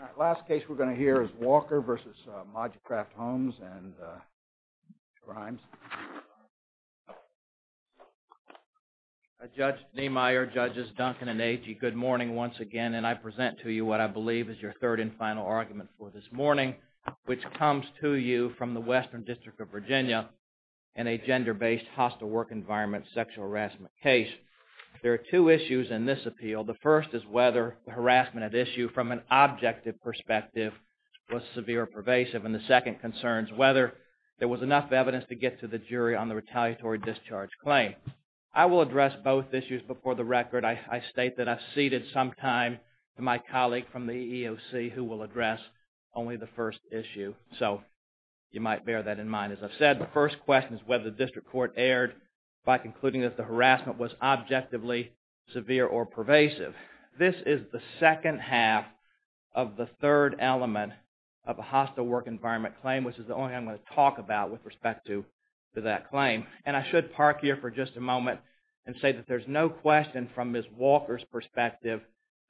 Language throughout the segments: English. All right, last case we're going to hear is Walker v. Mod-U-Kraf Homes, and Mr. Himes. Judge Niemeyer, Judges Duncan and Agee, good morning once again, and I present to you what I believe is your third and final argument for this morning, which comes to you from the Western District of Virginia in a gender-based hostile work environment sexual harassment case. There are two issues in this appeal. The first is whether the harassment at issue from an objective perspective was severe or pervasive. And the second concerns whether there was enough evidence to get to the jury on the retaliatory discharge claim. I will address both issues before the record. I state that I've ceded some time to my colleague from the EEOC who will address only the first issue. So you might bear that in mind. As I've said, the first question is whether the District Court erred by concluding that the harassment was objectively severe or pervasive. This is the second half of the third element of a hostile work environment claim, which is the only thing I'm going to talk about with respect to that claim. And I should park here for just a moment and say that there's no question from Ms. Walker's perspective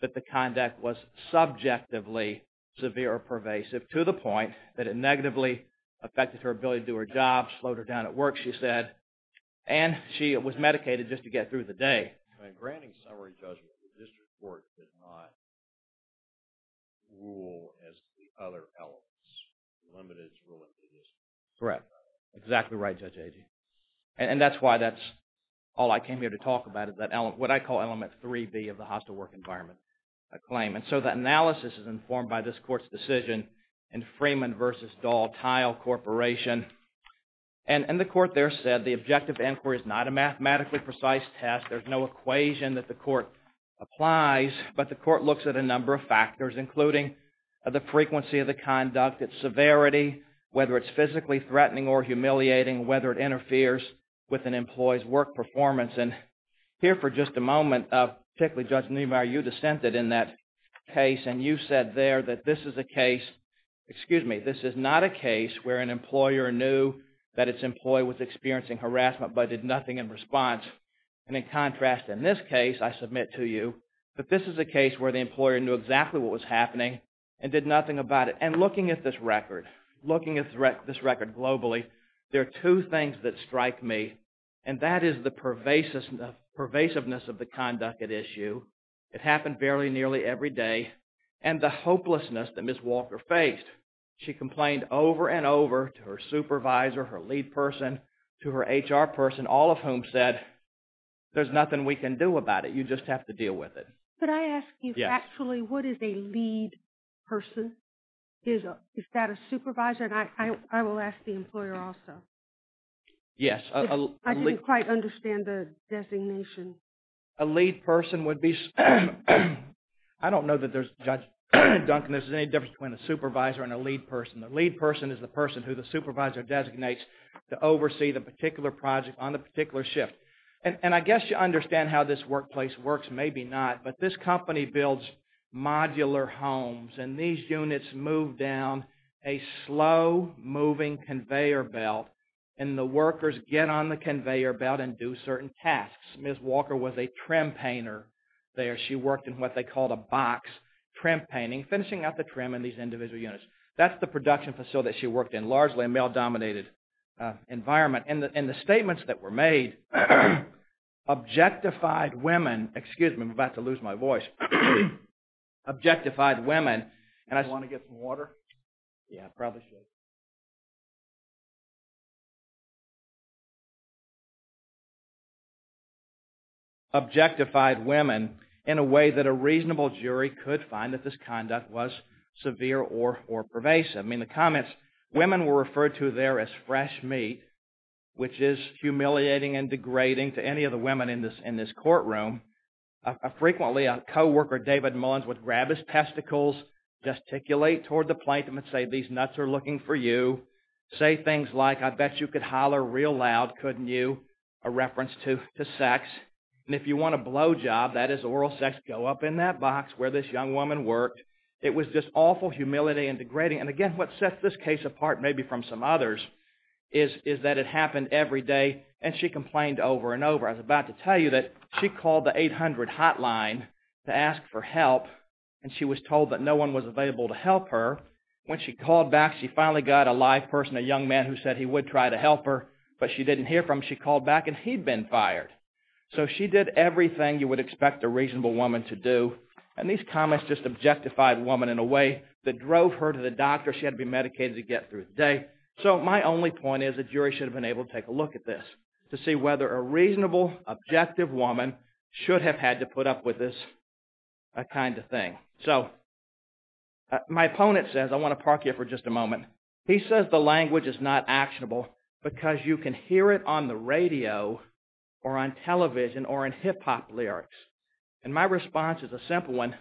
that the conduct was subjectively severe or pervasive to the point that it negatively affected her ability to do her job, slowed her down at work, she said, and she was medicated just to get through the day. In granting summary judgment, the District Court did not rule as to the other elements. It limited its ruling to this. Correct. Exactly right, Judge Agee. And that's why that's all I came here to talk about is what I call element 3B of the hostile work environment claim. And so the analysis is informed by this Court's decision in Freeman v. Dahl-Teil Corporation. And the Court there said the objective inquiry is not a mathematically precise test. There's no equation that the Court applies. But the Court looks at a number of factors, including the frequency of the conduct, its severity, whether it's physically threatening or humiliating, whether it interferes with an employee's work performance. And here for just a moment, particularly Judge Niemeyer, you dissented in that case and you said there that this is a case, excuse me, this is not a case where an employer knew that its employee was experiencing harassment but did nothing in response. And in contrast, in this case, I submit to you, that this is a case where the employer knew exactly what was happening and did nothing about it. And looking at this record, looking at this record globally, there are two things that strike me, and that is the pervasiveness of the conduct at issue. It happened barely nearly every day. And the hopelessness that Ms. Walker faced. She complained over and over to her supervisor, her lead person, to her HR person, all of whom said, there's nothing we can do about it. You just have to deal with it. Could I ask you, actually, what is a lead person? Is that a supervisor? And I will ask the employer also. Yes. I didn't quite understand the designation. A lead person would be – I don't know that there's, Judge Duncan, there's any difference between a supervisor and a lead person. A lead person is the person who the supervisor designates to oversee the particular project on a particular shift. And I guess you understand how this workplace works. Maybe not. But this company builds modular homes, and these units move down a slow-moving conveyor belt, and the workers get on the conveyor belt and do certain tasks. Ms. Walker was a trim painter there. She worked in what they called a box trim painting, finishing out the trim in these individual units. That's the production facility that she worked in, largely a male-dominated environment. And the statements that were made objectified women – excuse me, I'm about to lose my voice – objectified women. Do you want to get some water? Yeah, I probably should. Objectified women in a way that a reasonable jury could find that this conduct was severe or pervasive. I mean, the comments – women were referred to there as fresh meat, which is humiliating and degrading to any of the women in this courtroom. Frequently, a coworker, David Mullins, would grab his testicles, gesticulate toward the plaintiff and say, these nuts are looking for you. Say things like, I bet you could holler real loud, couldn't you? A reference to sex. And if you want a blowjob, that is oral sex, go up in that box where this young woman worked. It was just awful humility and degrading. And again, what sets this case apart maybe from some others is that it happened every day, and she complained over and over. I was about to tell you that she called the 800 hotline to ask for help, and she was told that no one was available to help her. When she called back, she finally got a live person, a young man, who said he would try to help her, but she didn't hear from him. She called back, and he'd been fired. So she did everything you would expect a reasonable woman to do. And these comments just objectified women in a way that drove her to the doctor. She had to be medicated to get through the day. So my only point is the jury should have been able to take a look at this to see whether a reasonable, objective woman should have had to put up with this kind of thing. So my opponent says, I want to park here for just a moment. He says the language is not actionable because you can hear it on the radio or on television or in hip-hop lyrics. And my response is a simple one.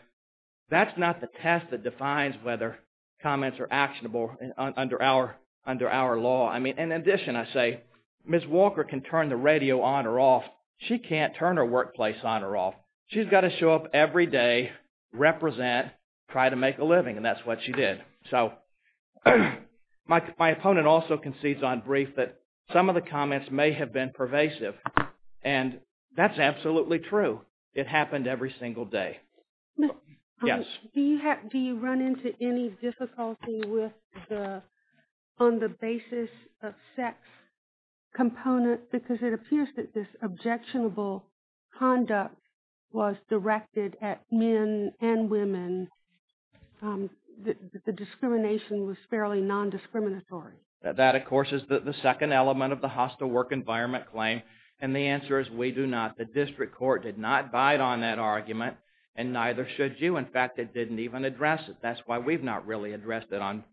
That's not the test that defines whether comments are actionable under our law. I mean, in addition, I say Ms. Walker can turn the radio on or off. She can't turn her workplace on or off. She's got to show up every day, represent, try to make a living, and that's what she did. So my opponent also concedes on brief that some of the comments may have been pervasive, and that's absolutely true. It happened every single day. Yes? Do you run into any difficulty on the basis of sex component? Because it appears that this objectionable conduct was directed at men and women. The discrimination was fairly nondiscriminatory. That, of course, is the second element of the hostile work environment claim. And the answer is we do not. The district court did not bite on that argument, and neither should you. In fact, it didn't even address it. That's why we've not really addressed it on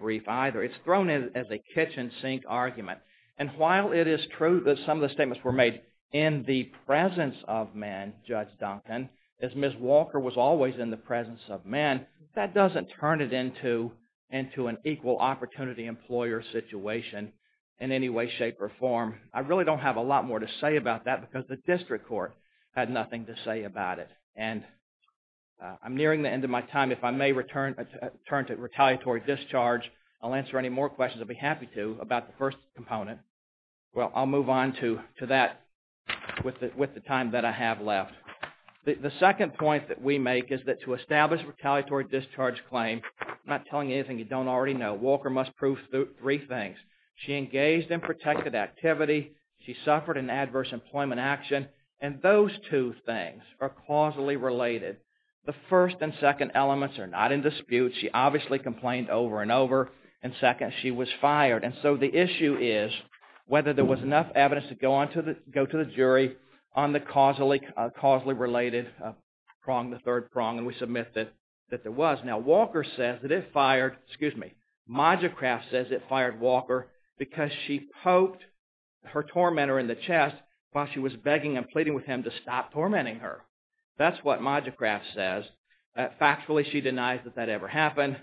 brief either. It's thrown in as a kitchen sink argument. And while it is true that some of the statements were made in the presence of men, Judge Duncan, as Ms. Walker was always in the presence of men, that doesn't turn it into an equal opportunity employer situation in any way, shape, or form. I really don't have a lot more to say about that because the district court had nothing to say about it. And I'm nearing the end of my time. If I may return to retaliatory discharge, I'll answer any more questions I'll be happy to about the first component. Well, I'll move on to that with the time that I have left. The second point that we make is that to establish a retaliatory discharge claim, I'm not telling you anything you don't already know. Walker must prove three things. She engaged in protected activity. She suffered an adverse employment action. And those two things are causally related. The first and second elements are not in dispute. She obviously complained over and over. And second, she was fired. And so the issue is whether there was enough evidence to go to the jury on the causally related prong, the third prong, and we submit that there was. Now Walker says that it fired, excuse me, Modgecraft says it fired Walker because she poked her tormentor in the chest while she was begging and pleading with him to stop tormenting her. That's what Modgecraft says. Factually, she denies that that ever happened.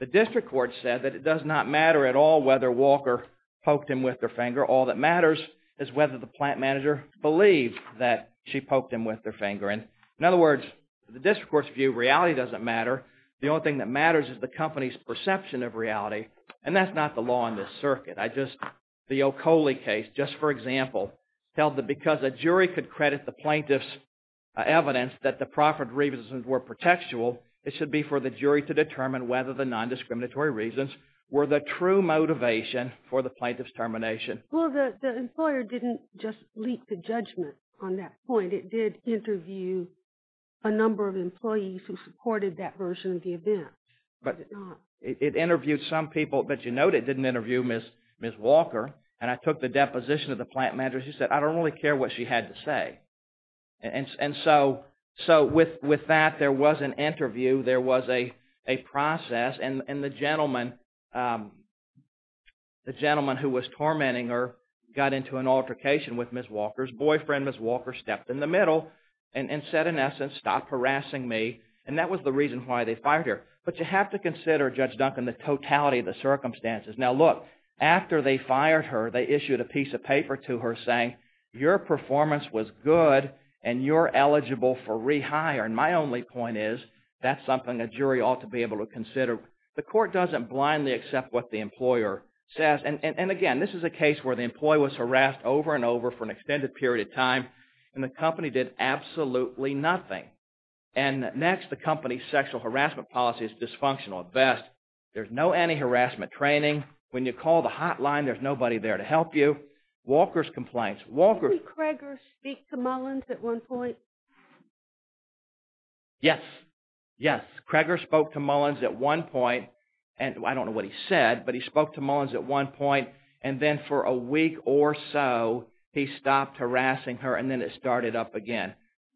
The district court said that it does not matter at all whether Walker poked him with her finger. All that matters is whether the plant manager believed that she poked him with her finger. In other words, the district court's view, reality doesn't matter. The only thing that matters is the company's perception of reality. And that's not the law in this circuit. I just – the O'Coley case, just for example, held that because a jury could credit the plaintiff's evidence that the proffered revisions were protectual, it should be for the jury to determine whether the nondiscriminatory reasons were the true motivation for the plaintiff's termination. Well, the employer didn't just leak the judgment on that point. It did interview a number of employees who supported that version of the event. But it interviewed some people. But you note it didn't interview Ms. Walker. And I took the deposition of the plant manager. She said, I don't really care what she had to say. And so with that, there was an interview. There was a process. And the gentleman who was tormenting her got into an altercation with Ms. Walker's boyfriend. Ms. Walker stepped in the middle and said, in essence, stop harassing me. And that was the reason why they fired her. But you have to consider, Judge Duncan, the totality of the circumstances. Now look, after they fired her, they issued a piece of paper to her saying, your performance was good and you're eligible for rehire. And my only point is, that's something a jury ought to be able to consider. The court doesn't blindly accept what the employer says. And again, this is a case where the employee was harassed over and over for an extended period of time. And the company did absolutely nothing. And next, the company's sexual harassment policy is dysfunctional. There's no anti-harassment training. When you call the hotline, there's nobody there to help you. Walker's complaints. Didn't Craigor speak to Mullins at one point? Yes. Yes. Craigor spoke to Mullins at one point. I don't know what he said, but he spoke to Mullins at one point. And then for a week or so, he stopped harassing her. And then it started up again.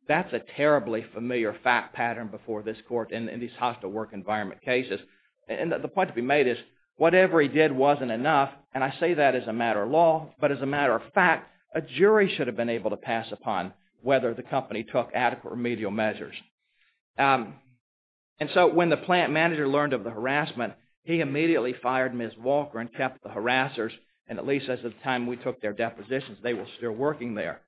That's a terribly familiar fact pattern before this court in these hostile work environment cases. And the point to be made is, whatever he did wasn't enough. And I say that as a matter of law. But as a matter of fact, a jury should have been able to pass upon whether the company took adequate remedial measures. And so when the plant manager learned of the harassment, he immediately fired Ms. Walker and kept the harassers. And at least as of the time we took their depositions, they were still working there.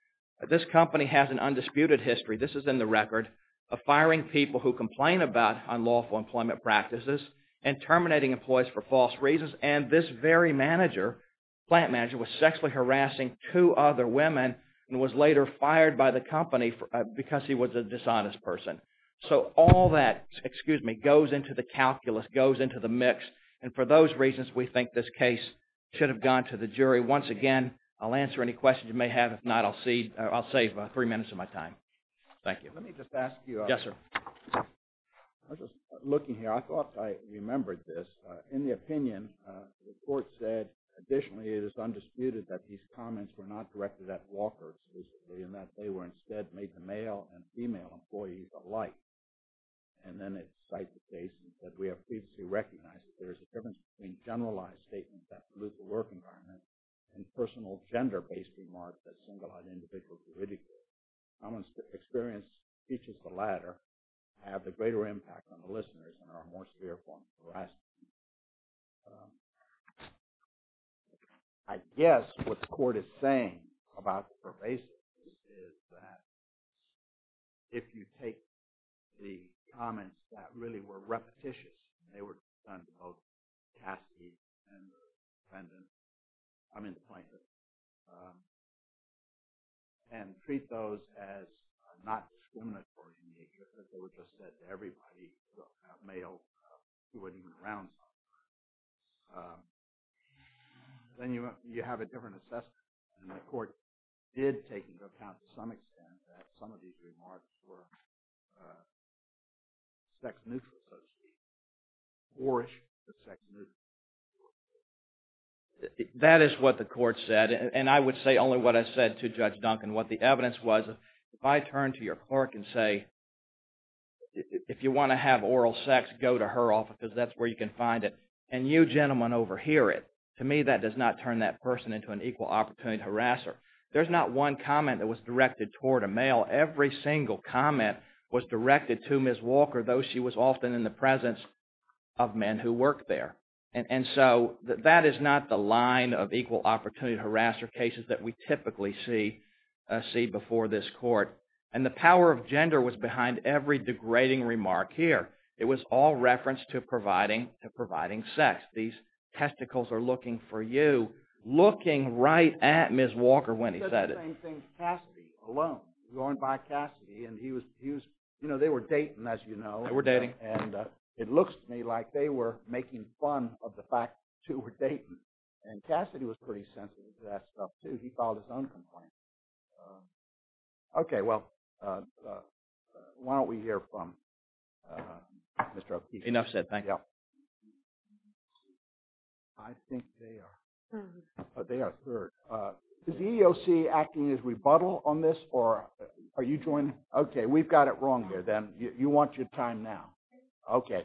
This company has an undisputed history, this is in the record, of firing people who complain about unlawful employment practices and terminating employees for false reasons. And this very manager, plant manager, was sexually harassing two other women and was later fired by the company because he was a dishonest person. So all that goes into the calculus, goes into the mix. And for those reasons, we think this case should have gone to the jury. Once again, I'll answer any questions you may have. If not, I'll save three minutes of my time. Thank you. Let me just ask you. Yes, sir. I was just looking here. I thought I remembered this. In the opinion, the court said additionally it is undisputed that these comments were not directed at Walker specifically and that they were instead made to male and female employees alike. And then it cites the case that we have previously recognized that there is a difference between generalized statements that pollute the work environment and personal gender-based remarks that single-eyed individuals ridicule. How much experience teaches the latter to have a greater impact on the listeners and are more severe forms of harassment? I guess what the court is saying about the pervasive is that if you take the comments that really were repetitious, and they were done to both castees and the defendants, I mean plaintiffs, and treat those as not discriminatory in nature, but they were just said to everybody, male, she wouldn't even round them, then you have a different assessment. And the court did take into account to some extent that some of these remarks were sex-neutral, so to speak, orish, but sex-neutral. That is what the court said. And I would say only what I said to Judge Duncan. And what the evidence was, if I turn to your clerk and say, if you want to have oral sex, go to her office, because that's where you can find it, and you gentlemen overhear it, to me that does not turn that person into an equal opportunity harasser. There's not one comment that was directed toward a male. Every single comment was directed to Ms. Walker, though she was often in the presence of men who worked there. And so that is not the line of equal opportunity harasser cases that we typically see before this court. And the power of gender was behind every degrading remark here. It was all referenced to providing sex. These testicles are looking for you, looking right at Ms. Walker when he said it. I was saying the same thing to Cassidy alone, going by Cassidy. And he was, you know, they were dating, as you know. They were dating. And it looks to me like they were making fun of the fact that the two were dating. And Cassidy was pretty sensitive to that stuff, too. He filed his own complaint. Okay, well, why don't we hear from Mr. O'Keefe. Enough said. Thank you. I think they are third. Is the EEOC acting as rebuttal on this, or are you joining? Okay, we've got it wrong there, then. You want your time now. Okay.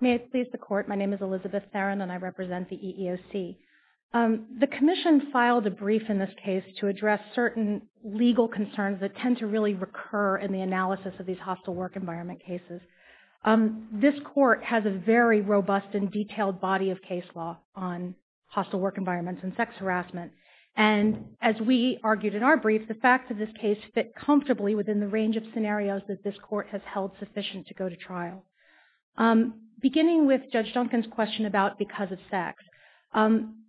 May it please the Court, my name is Elizabeth Theron, and I represent the EEOC. The Commission filed a brief in this case to address certain legal concerns that tend to really recur in the analysis of these hostile work environment cases. This Court has a very robust and detailed body of case law on hostile work environments and sex harassment. And as we argued in our brief, the facts of this case fit comfortably within the range of scenarios that this Court has held sufficient to go to trial. Beginning with Judge Duncan's question about because of sex,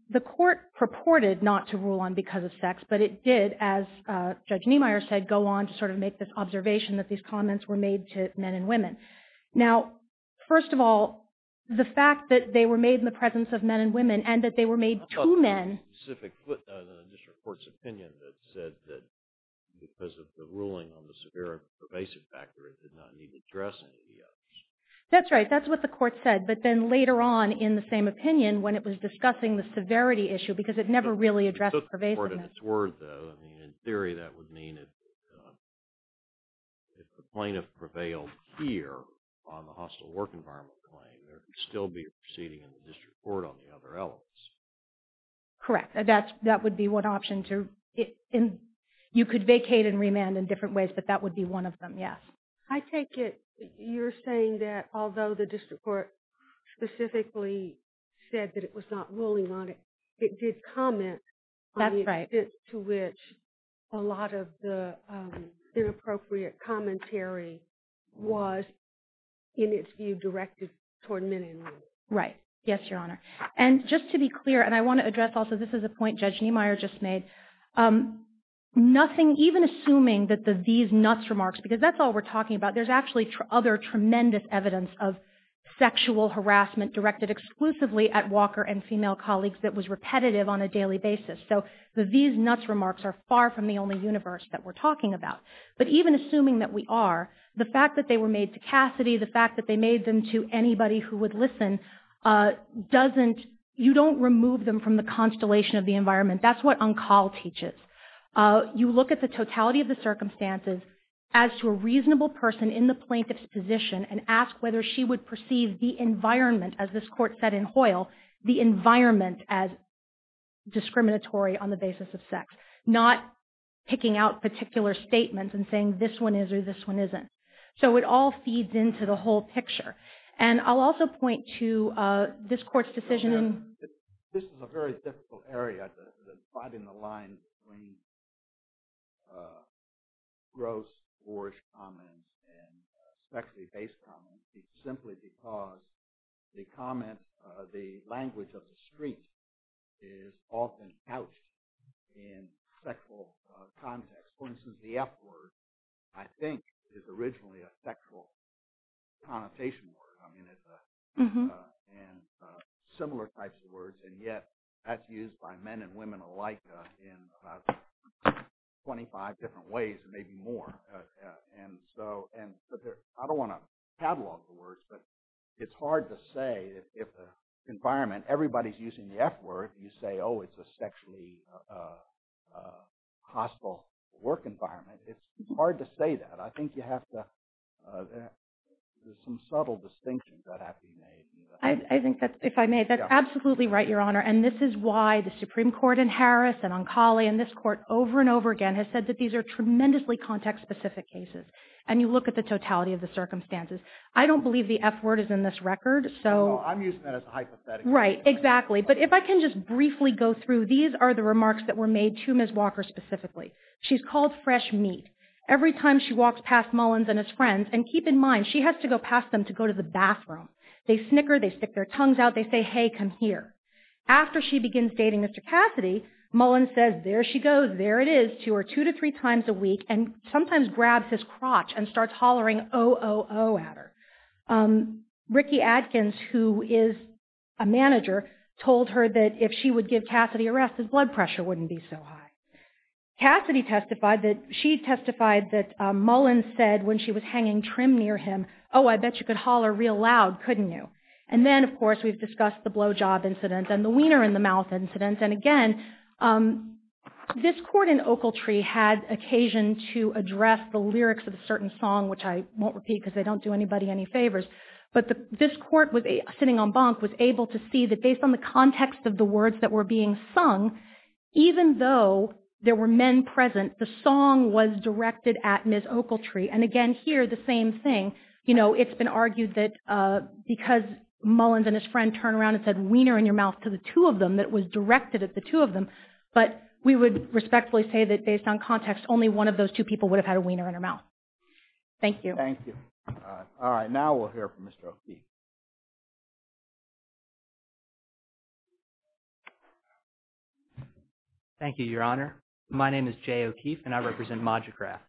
the Court purported not to rule on because of sex, but it did, as Judge Niemeyer said, go on to sort of make this observation that these comments were made to men and women. Now, first of all, the fact that they were made in the presence of men and women, and that they were made to men. I thought there was a specific footnote in the District Court's opinion that said that because of the ruling on the severe and pervasive factor, it did not need to address any of the others. That's right, that's what the Court said. But then later on, in the same opinion, when it was discussing the severity issue, because it never really addressed pervasiveness. In theory, that would mean that if the plaintiff prevailed here on the hostile work environment claim, there would still be a proceeding in the District Court on the other elements. Correct, that would be one option. You could vacate and remand in different ways, but that would be one of them, yes. I take it you're saying that although the District Court specifically said that it was not ruling on it, it did comment on the extent to which a lot of the inappropriate commentary was, in its view, directed toward men and women. Right, yes, Your Honor. And just to be clear, and I want to address also, this is a point Judge Niemeyer just made, even assuming that the these nuts remarks, because that's all we're talking about, there's actually other tremendous evidence of sexual harassment directed exclusively at Walker and female colleagues that was repetitive on a daily basis. So the these nuts remarks are far from the only universe that we're talking about. But even assuming that we are, the fact that they were made to Cassidy, the fact that they made them to anybody who would listen, you don't remove them from the constellation of the environment. That's what Uncal teaches. You look at the totality of the circumstances as to a reasonable person in the plaintiff's position and ask whether she would perceive the environment, as this Court said in Hoyle, the environment as discriminatory on the basis of sex, not picking out particular statements and saying this one is or this one isn't. So it all feeds into the whole picture. And I'll also point to this Court's decision— This is a very difficult area, the dividing the line between gross, boorish comments and sexually based comments, simply because the language of the street is often couched in sexual context. For instance, the F word, I think, is originally a sexual connotation word. And similar types of words, and yet that's used by men and women alike in about 25 different ways and maybe more. And so I don't want to catalog the words, but it's hard to say if the environment, everybody's using the F word, you say, oh, it's a sexually hostile work environment. It's hard to say that. I think you have to—there's some subtle distinctions that have to be made. I think that, if I may, that's absolutely right, Your Honor. And this is why the Supreme Court in Harris and on Cali and this Court over and over again has said that these are tremendously context-specific cases. And you look at the totality of the circumstances. I don't believe the F word is in this record, so— I'm using that as a hypothetical. Right, exactly. But if I can just briefly go through, these are the remarks that were made to Ms. Walker specifically. She's called fresh meat. Every time she walks past Mullins and his friends, and keep in mind, she has to go past them to go to the bathroom. They snicker. They stick their tongues out. They say, hey, come here. After she begins dating Mr. Cassidy, Mullins says, there she goes, there it is, to her two to three times a week and sometimes grabs his crotch and starts hollering, oh, oh, oh, at her. Ricky Adkins, who is a manager, told her that if she would give Cassidy a rest, his blood pressure wouldn't be so high. Cassidy testified that—she testified that Mullins said when she was hanging trim near him, oh, I bet you could holler real loud, couldn't you? And then, of course, we've discussed the blowjob incident and the wiener-in-the-mouth incident. And, again, this court in Oakletree had occasion to address the lyrics of a certain song, which I won't repeat because they don't do anybody any favors. But this court, sitting on bunk, was able to see that based on the context of the words that were being sung, even though there were men present, the song was directed at Ms. Oakletree. And, again, here the same thing. You know, it's been argued that because Mullins and his friend turned around and said wiener-in-your-mouth to the two of them, it was directed at the two of them. But we would respectfully say that based on context, only one of those two people would have had a wiener-in-her-mouth. Thank you. Thank you. All right. Now we'll hear from Mr. Oakey. Thank you, Your Honor. My name is Jay Oakey, and I represent Modugraft.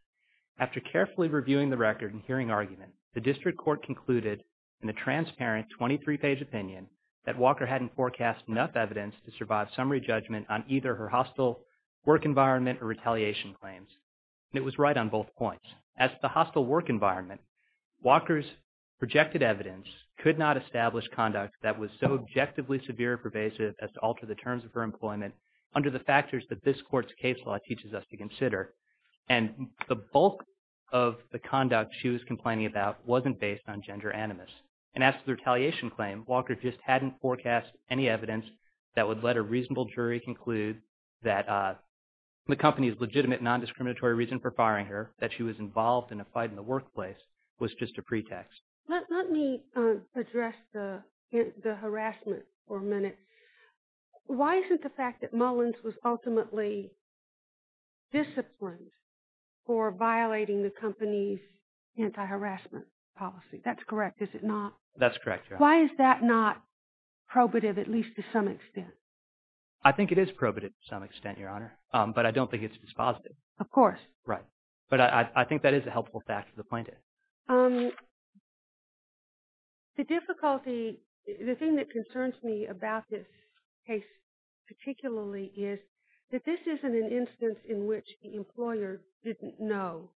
After carefully reviewing the record and hearing argument, the district court concluded in a transparent 23-page opinion that Walker hadn't forecast enough evidence to survive summary judgment on either her hostile work environment or retaliation claims. And it was right on both points. As to the hostile work environment, Walker's projected evidence could not establish conduct that was so objectively severe and pervasive as to alter the terms of her employment under the factors that this court's case law teaches us to consider. And the bulk of the conduct she was complaining about wasn't based on gender animus. And as to the retaliation claim, Walker just hadn't forecast any evidence that would let a reasonable jury conclude that the company's legitimate, non-discriminatory reason for firing her, that she was involved in a fight in the workplace, was just a pretext. Let me address the harassment for a minute. Why isn't the fact that Mullins was ultimately disciplined for violating the company's anti-harassment policy? That's correct, is it not? That's correct, Your Honor. Why is that not probative, at least to some extent? I think it is probative to some extent, Your Honor, but I don't think it's dispositive. Of course. Right. But I think that is a helpful fact for the plaintiff. The difficulty, the thing that concerns me about this case particularly, is that this isn't an instance in which the employer didn't know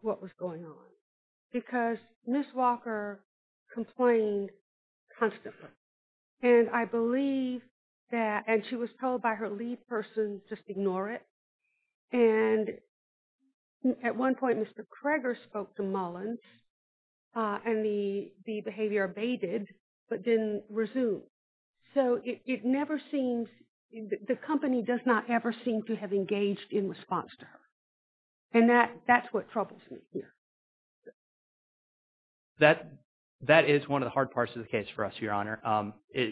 what was going on because Ms. Walker complained constantly. And I believe that, and she was told by her lead person, just ignore it. And at one point Mr. Kroeger spoke to Mullins and the behavior abated but didn't resume. So it never seems, the company does not ever seem to have engaged in response to her. And that's what troubles me here. That is one of the hard parts of the case for us, Your Honor.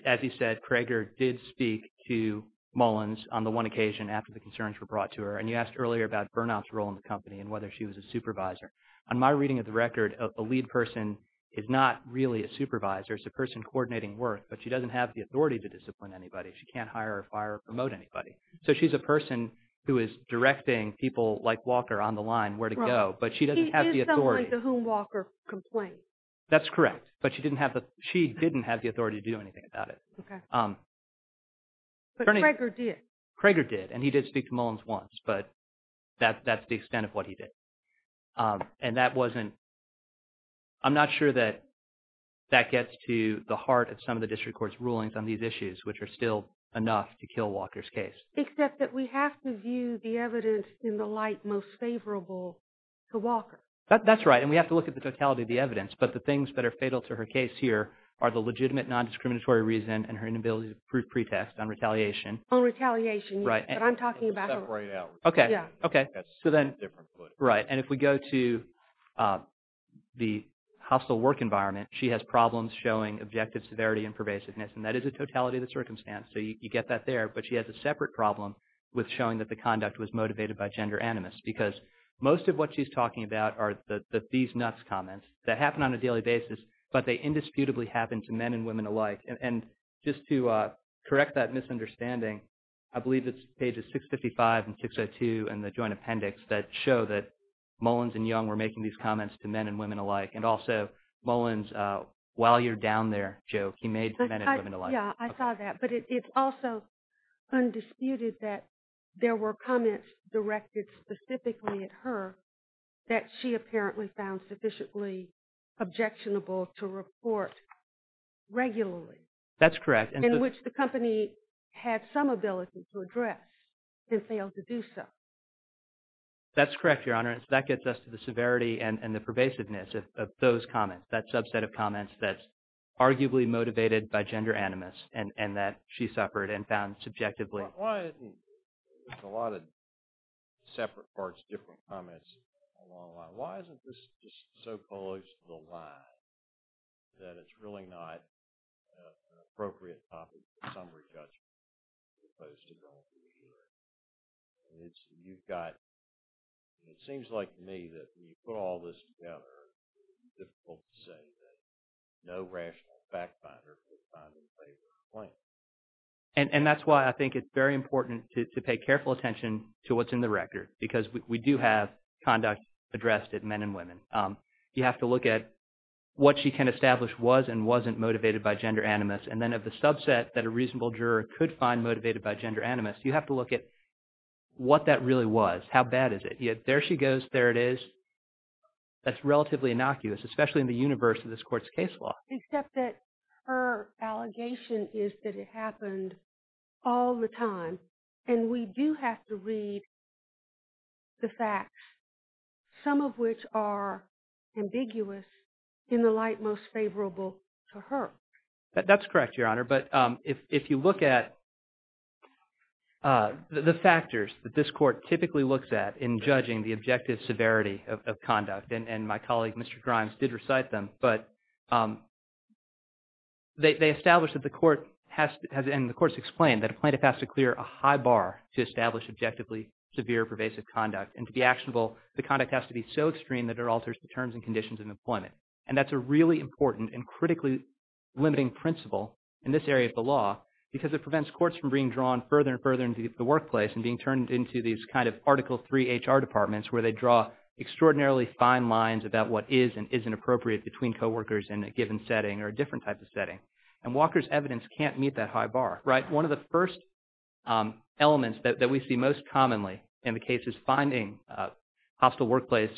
As you said, Kroeger did speak to Mullins on the one occasion after the concerns were brought to her. And you asked earlier about Bernoff's role in the company and whether she was a supervisor. On my reading of the record, a lead person is not really a supervisor. It's a person coordinating work. But she doesn't have the authority to discipline anybody. She can't hire or fire or promote anybody. So she's a person who is directing people like Walker on the line where to go. But she doesn't have the authority. He is someone to whom Walker complains. That's correct. But she didn't have the authority to do anything about it. But Kroeger did. Kroeger did. And he did speak to Mullins once. But that's the extent of what he did. And that wasn't, I'm not sure that that gets to the heart of some of the district court's rulings on these issues, which are still enough to kill Walker's case. Except that we have to view the evidence in the light most favorable to Walker. That's right. And we have to look at the totality of the evidence. But the things that are fatal to her case here are the legitimate non-discriminatory reason and her inability to prove pretext on retaliation. On retaliation. Right. But I'm talking about her. Okay. Okay. So then, right. And if we go to the hostile work environment, she has problems showing objective severity and pervasiveness. And that is a totality of the circumstance. So you get that there. But she has a separate problem with showing that the conduct was motivated by gender animus. Because most of what she's talking about are these nuts comments that happen on a daily basis, but they indisputably happen to men and women alike. And just to correct that misunderstanding, I believe it's pages 655 and 602 in the Joint Appendix that show that Mullins and Young were making these comments to men and women alike. And also Mullins, while you're down there, Joe, he made men and women alike. Yeah, I saw that. But it's also undisputed that there were comments directed specifically at her that she apparently found sufficiently objectionable to report regularly. That's correct. In which the company had some ability to address and failed to do so. That's correct, Your Honor. That gets us to the severity and the pervasiveness of those comments, that subset of comments that's arguably motivated by gender animus, and that she suffered and found subjectively. There's a lot of separate parts, different comments along the line. Why isn't this just so close to the line that it's really not an appropriate topic for summary judgment as opposed to going through a hearing? You've got – it seems like to me that when you put all this together, it's difficult to say that no rational fact finder would find it in favor of the claim. And that's why I think it's very important to pay careful attention to what's in the record because we do have conduct addressed at men and women. You have to look at what she can establish was and wasn't motivated by gender animus, and then of the subset that a reasonable juror could find motivated by gender animus, you have to look at what that really was. How bad is it? There she goes. There it is. That's relatively innocuous, especially in the universe of this Court's case law. Except that her allegation is that it happened all the time, and we do have to read the facts, some of which are ambiguous in the light most favorable to her. That's correct, Your Honor. But if you look at the factors that this Court typically looks at in judging the objective severity of conduct, and my colleague, Mr. Grimes, did recite them, but they establish that the Court has – and the Court's explained that a plaintiff has to clear a high bar to establish objectively severe pervasive conduct. And to be actionable, the conduct has to be so extreme that it alters the terms and conditions of employment. And that's a really important and critically limiting principle in this area of the law because it prevents courts from being drawn further and further into the workplace and being turned into these kind of Article III HR departments where they draw extraordinarily fine lines about what is and isn't appropriate between coworkers in a given setting or a different type of setting. And Walker's evidence can't meet that high bar, right? One of the first elements that we see most commonly in the cases finding hostile workplace,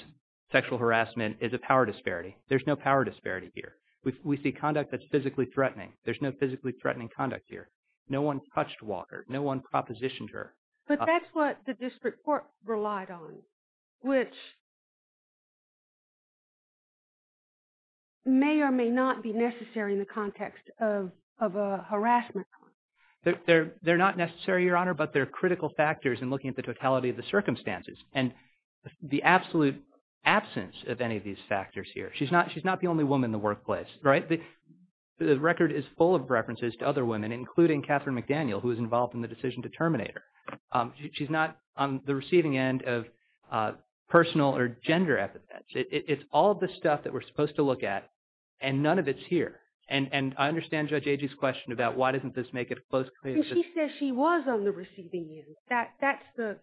sexual harassment, is a power disparity. There's no power disparity here. We see conduct that's physically threatening. There's no physically threatening conduct here. No one touched Walker. No one propositioned her. But that's what the district court relied on, which may or may not be necessary in the context of a harassment. They're not necessary, Your Honor, but they're critical factors in looking at the totality of the circumstances. And the absolute absence of any of these factors here. She's not the only woman in the workplace, right? The record is full of references to other women, including Catherine McDaniel, who was involved in the decision to terminate her. She's not on the receiving end of personal or gender epithets. It's all of the stuff that we're supposed to look at, and none of it's here. And I understand Judge Agee's question about why doesn't this make it close. She says she was on the receiving end.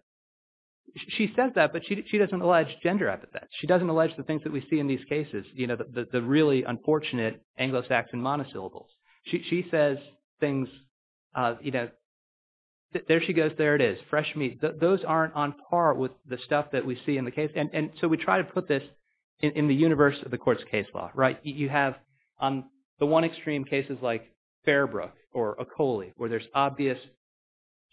She says that, but she doesn't allege gender epithets. She doesn't allege the things that we see in these cases, the really unfortunate Anglo-Saxon monosyllables. She says things, you know, there she goes, there it is, fresh meat. Those aren't on par with the stuff that we see in the case. And so we try to put this in the universe of the court's case law, right? You have on the one extreme cases like Fairbrook or Ocoli, where there's obvious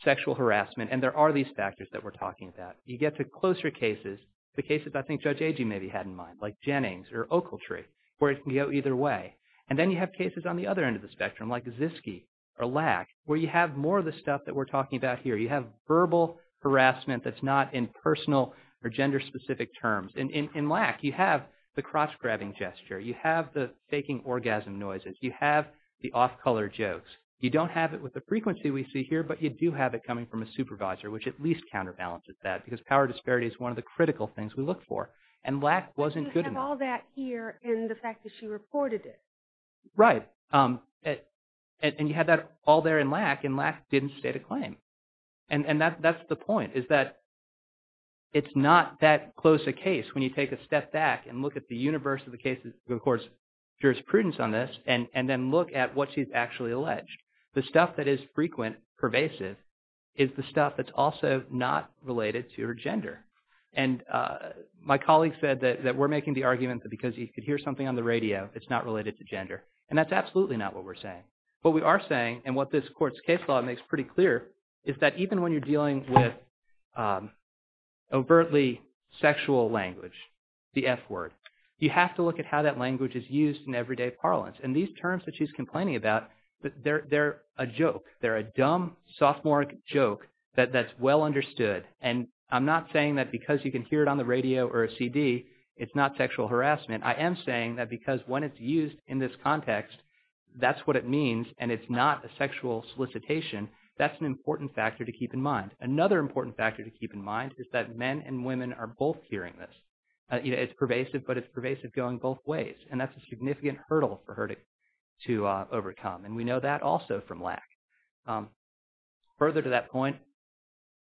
sexual harassment, and there are these factors that we're talking about. You get to closer cases, the cases I think Judge Agee maybe had in mind, like Jennings or Ocultry, where it can go either way. And then you have cases on the other end of the spectrum, like Ziske or Lack, where you have more of the stuff that we're talking about here. You have verbal harassment that's not in personal or gender-specific terms. In Lack, you have the cross-grabbing gesture. You have the faking orgasm noises. You have the off-color jokes. You don't have it with the frequency we see here, but you do have it coming from a supervisor, which at least counterbalances that, because power disparity is one of the critical things we look for. And Lack wasn't good enough. You have all that here in the fact that she reported it. Right. And you have that all there in Lack, and Lack didn't state a claim. And that's the point, is that it's not that close a case when you take a step back and look at the universe of the court's jurisprudence on this and then look at what she's actually alleged. The stuff that is frequent, pervasive, is the stuff that's also not related to her gender. And my colleague said that we're making the argument that because you could hear something on the radio, it's not related to gender. What we are saying, and what this court's case law makes pretty clear, is that even when you're dealing with overtly sexual language, the F word, you have to look at how that language is used in everyday parlance. And these terms that she's complaining about, they're a joke. They're a dumb, sophomoric joke that's well understood. And I'm not saying that because you can hear it on the radio or a CD, it's not sexual harassment. I am saying that because when it's used in this context, that's what it means, and it's not a sexual solicitation. That's an important factor to keep in mind. Another important factor to keep in mind is that men and women are both hearing this. It's pervasive, but it's pervasive going both ways. And that's a significant hurdle for her to overcome, and we know that also from Lack. Further to that point,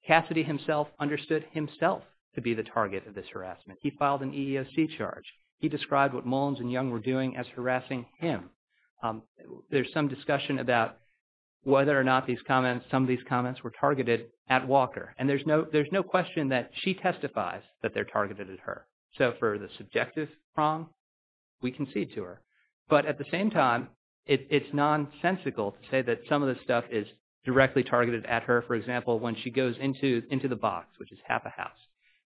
Cassidy himself understood himself to be the target of this harassment. He filed an EEOC charge. He described what Mullins and Young were doing as harassing him. There's some discussion about whether or not some of these comments were targeted at Walker, and there's no question that she testifies that they're targeted at her. So for the subjective wrong, we concede to her. But at the same time, it's nonsensical to say that some of this stuff is directly targeted at her. For example, when she goes into the box, which is half a house,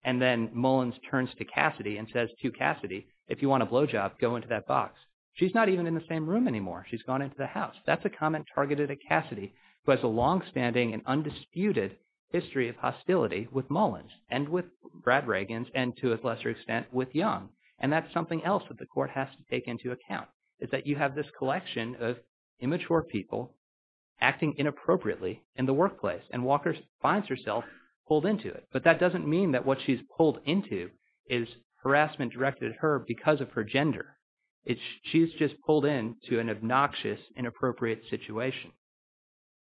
and then Mullins turns to Cassidy and says to Cassidy, if you want a blowjob, go into that box, she's not even in the same room anymore. She's gone into the house. That's a comment targeted at Cassidy, who has a longstanding and undisputed history of hostility with Mullins and with Brad Regans and, to a lesser extent, with Young. And that's something else that the court has to take into account, is that you have this collection of immature people acting inappropriately in the workplace, and Walker finds herself pulled into it. But that doesn't mean that what she's pulled into is harassment directed at her because of her gender. She's just pulled into an obnoxious, inappropriate situation.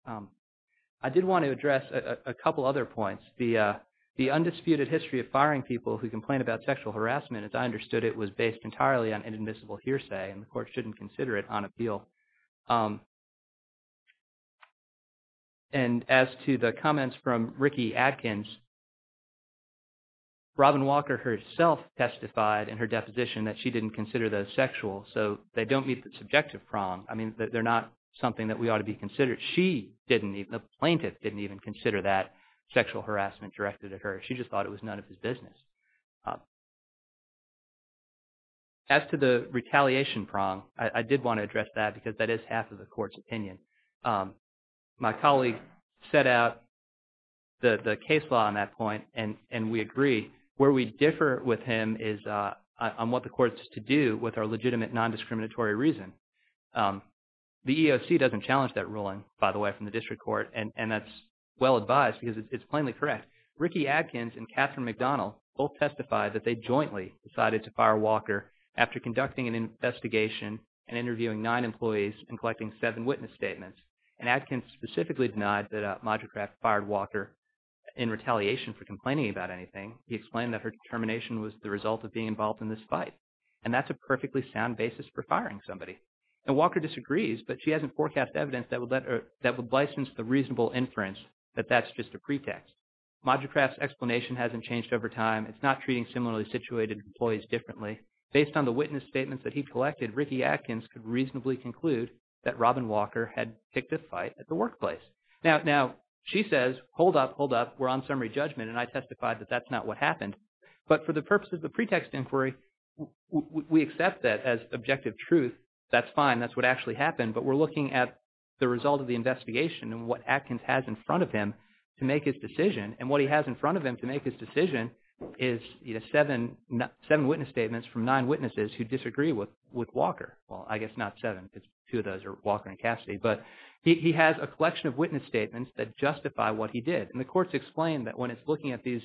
I did want to address a couple other points. The undisputed history of firing people who complain about sexual harassment, as I understood it, was based entirely on inadmissible hearsay, and the court shouldn't consider it on appeal. And as to the comments from Ricky Adkins, Robin Walker herself testified in her deposition that she didn't consider those sexual, so they don't meet the subjective prong. I mean, they're not something that we ought to be considering. She didn't even – the plaintiff didn't even consider that sexual harassment directed at her. She just thought it was none of his business. As to the retaliation prong, I did want to address that because that is half of the court's opinion. My colleague set out the case law on that point, and we agree. Where we differ with him is on what the court is to do with our legitimate non-discriminatory reason. The EEOC doesn't challenge that ruling, by the way, from the district court, and that's well advised because it's plainly correct. Ricky Adkins and Catherine McDonald both testified that they jointly decided to fire Walker after conducting an investigation and interviewing nine employees and collecting seven witness statements. And Adkins specifically denied that Modigrat fired Walker in retaliation for complaining about anything. He explained that her termination was the result of being involved in this fight, and that's a perfectly sound basis for firing somebody. And Walker disagrees, but she hasn't forecast evidence that would license the reasonable inference that that's just a pretext. Modigrat's explanation hasn't changed over time. It's not treating similarly situated employees differently. Based on the witness statements that he collected, Ricky Adkins could reasonably conclude that Robin Walker had picked a fight at the workplace. Now, she says, hold up, hold up. We're on summary judgment, and I testified that that's not what happened. But for the purposes of the pretext inquiry, we accept that as objective truth. That's fine. That's what actually happened. But we're looking at the result of the investigation and what Adkins has in front of him to make his decision. And what he has in front of him to make his decision is seven witness statements from nine witnesses who disagree with Walker. Well, I guess not seven. Two of those are Walker and Cassidy. But he has a collection of witness statements that justify what he did. And the courts explained that when it's looking at these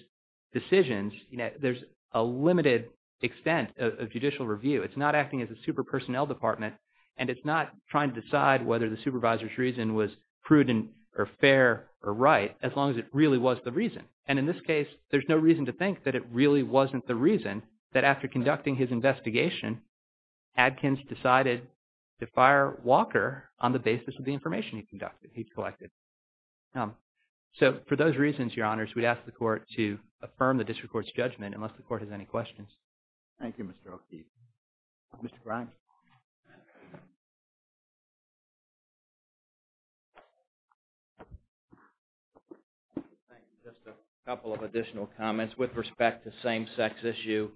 decisions, there's a limited extent of judicial review. It's not acting as a super personnel department. And it's not trying to decide whether the supervisor's reason was prudent or fair or right as long as it really was the reason. And in this case, there's no reason to think that it really wasn't the reason that after conducting his investigation, Adkins decided to fire Walker on the basis of the information he collected. So for those reasons, Your Honors, we'd ask the court to affirm the district court's judgment unless the court has any questions. Thank you, Mr. O'Keefe. Mr. Grimes. Thank you. Just a couple of additional comments with respect to same-sex issue.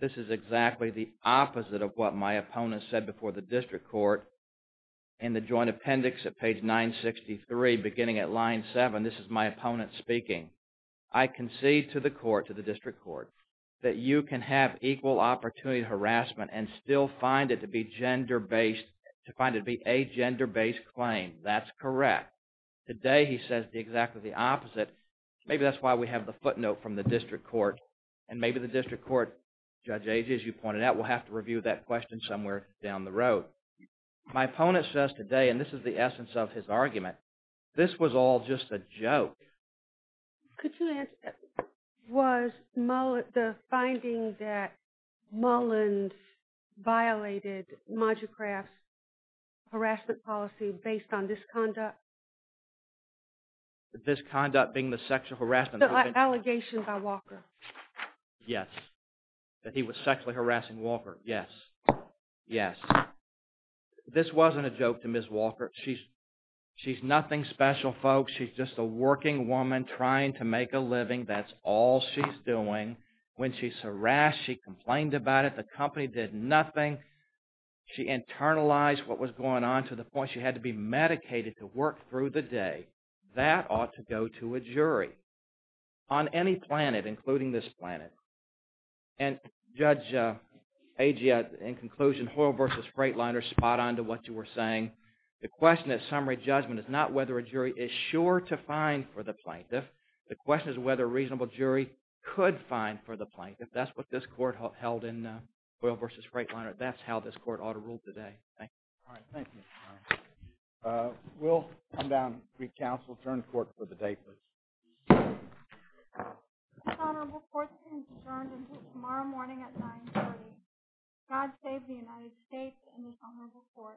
This is exactly the opposite of what my opponent said before the district court in the joint appendix at page 963 beginning at line 7. This is my opponent speaking. I concede to the court, to the district court, that you can have equal opportunity harassment and still find it to be a gender-based claim. That's correct. Today he says exactly the opposite. Maybe that's why we have the footnote from the district court. And maybe the district court, Judge Agee, as you pointed out, will have to review that question somewhere down the road. My opponent says today, and this is the essence of his argument, this was all just a joke. Could you answer, was the finding that Mullins violated Moducraft's harassment policy based on this conduct? This conduct being the sexual harassment? The allegation by Walker. Yes. That he was sexually harassing Walker. Yes. Yes. This wasn't a joke to Ms. Walker. She's nothing special, folks. She's just a working woman trying to make a living. That's all she's doing. When she's harassed, she complained about it. The company did nothing. She internalized what was going on to the point she had to be medicated to work through the day. That ought to go to a jury on any planet, including this planet. And Judge Agee, in conclusion, Hoyle versus Freightliner, spot on to what you were saying. The question at summary judgment is not whether a jury is sure to find for the plaintiff. The question is whether a reasonable jury could find for the plaintiff. That's what this court held in Hoyle versus Freightliner. That's how this court ought to rule today. Thank you. All right. Thank you. We'll come down, recounsel, turn the court for the day, please. This honorable court is adjourned until tomorrow morning at 9.30. God save the United States and this honorable court. Thank you.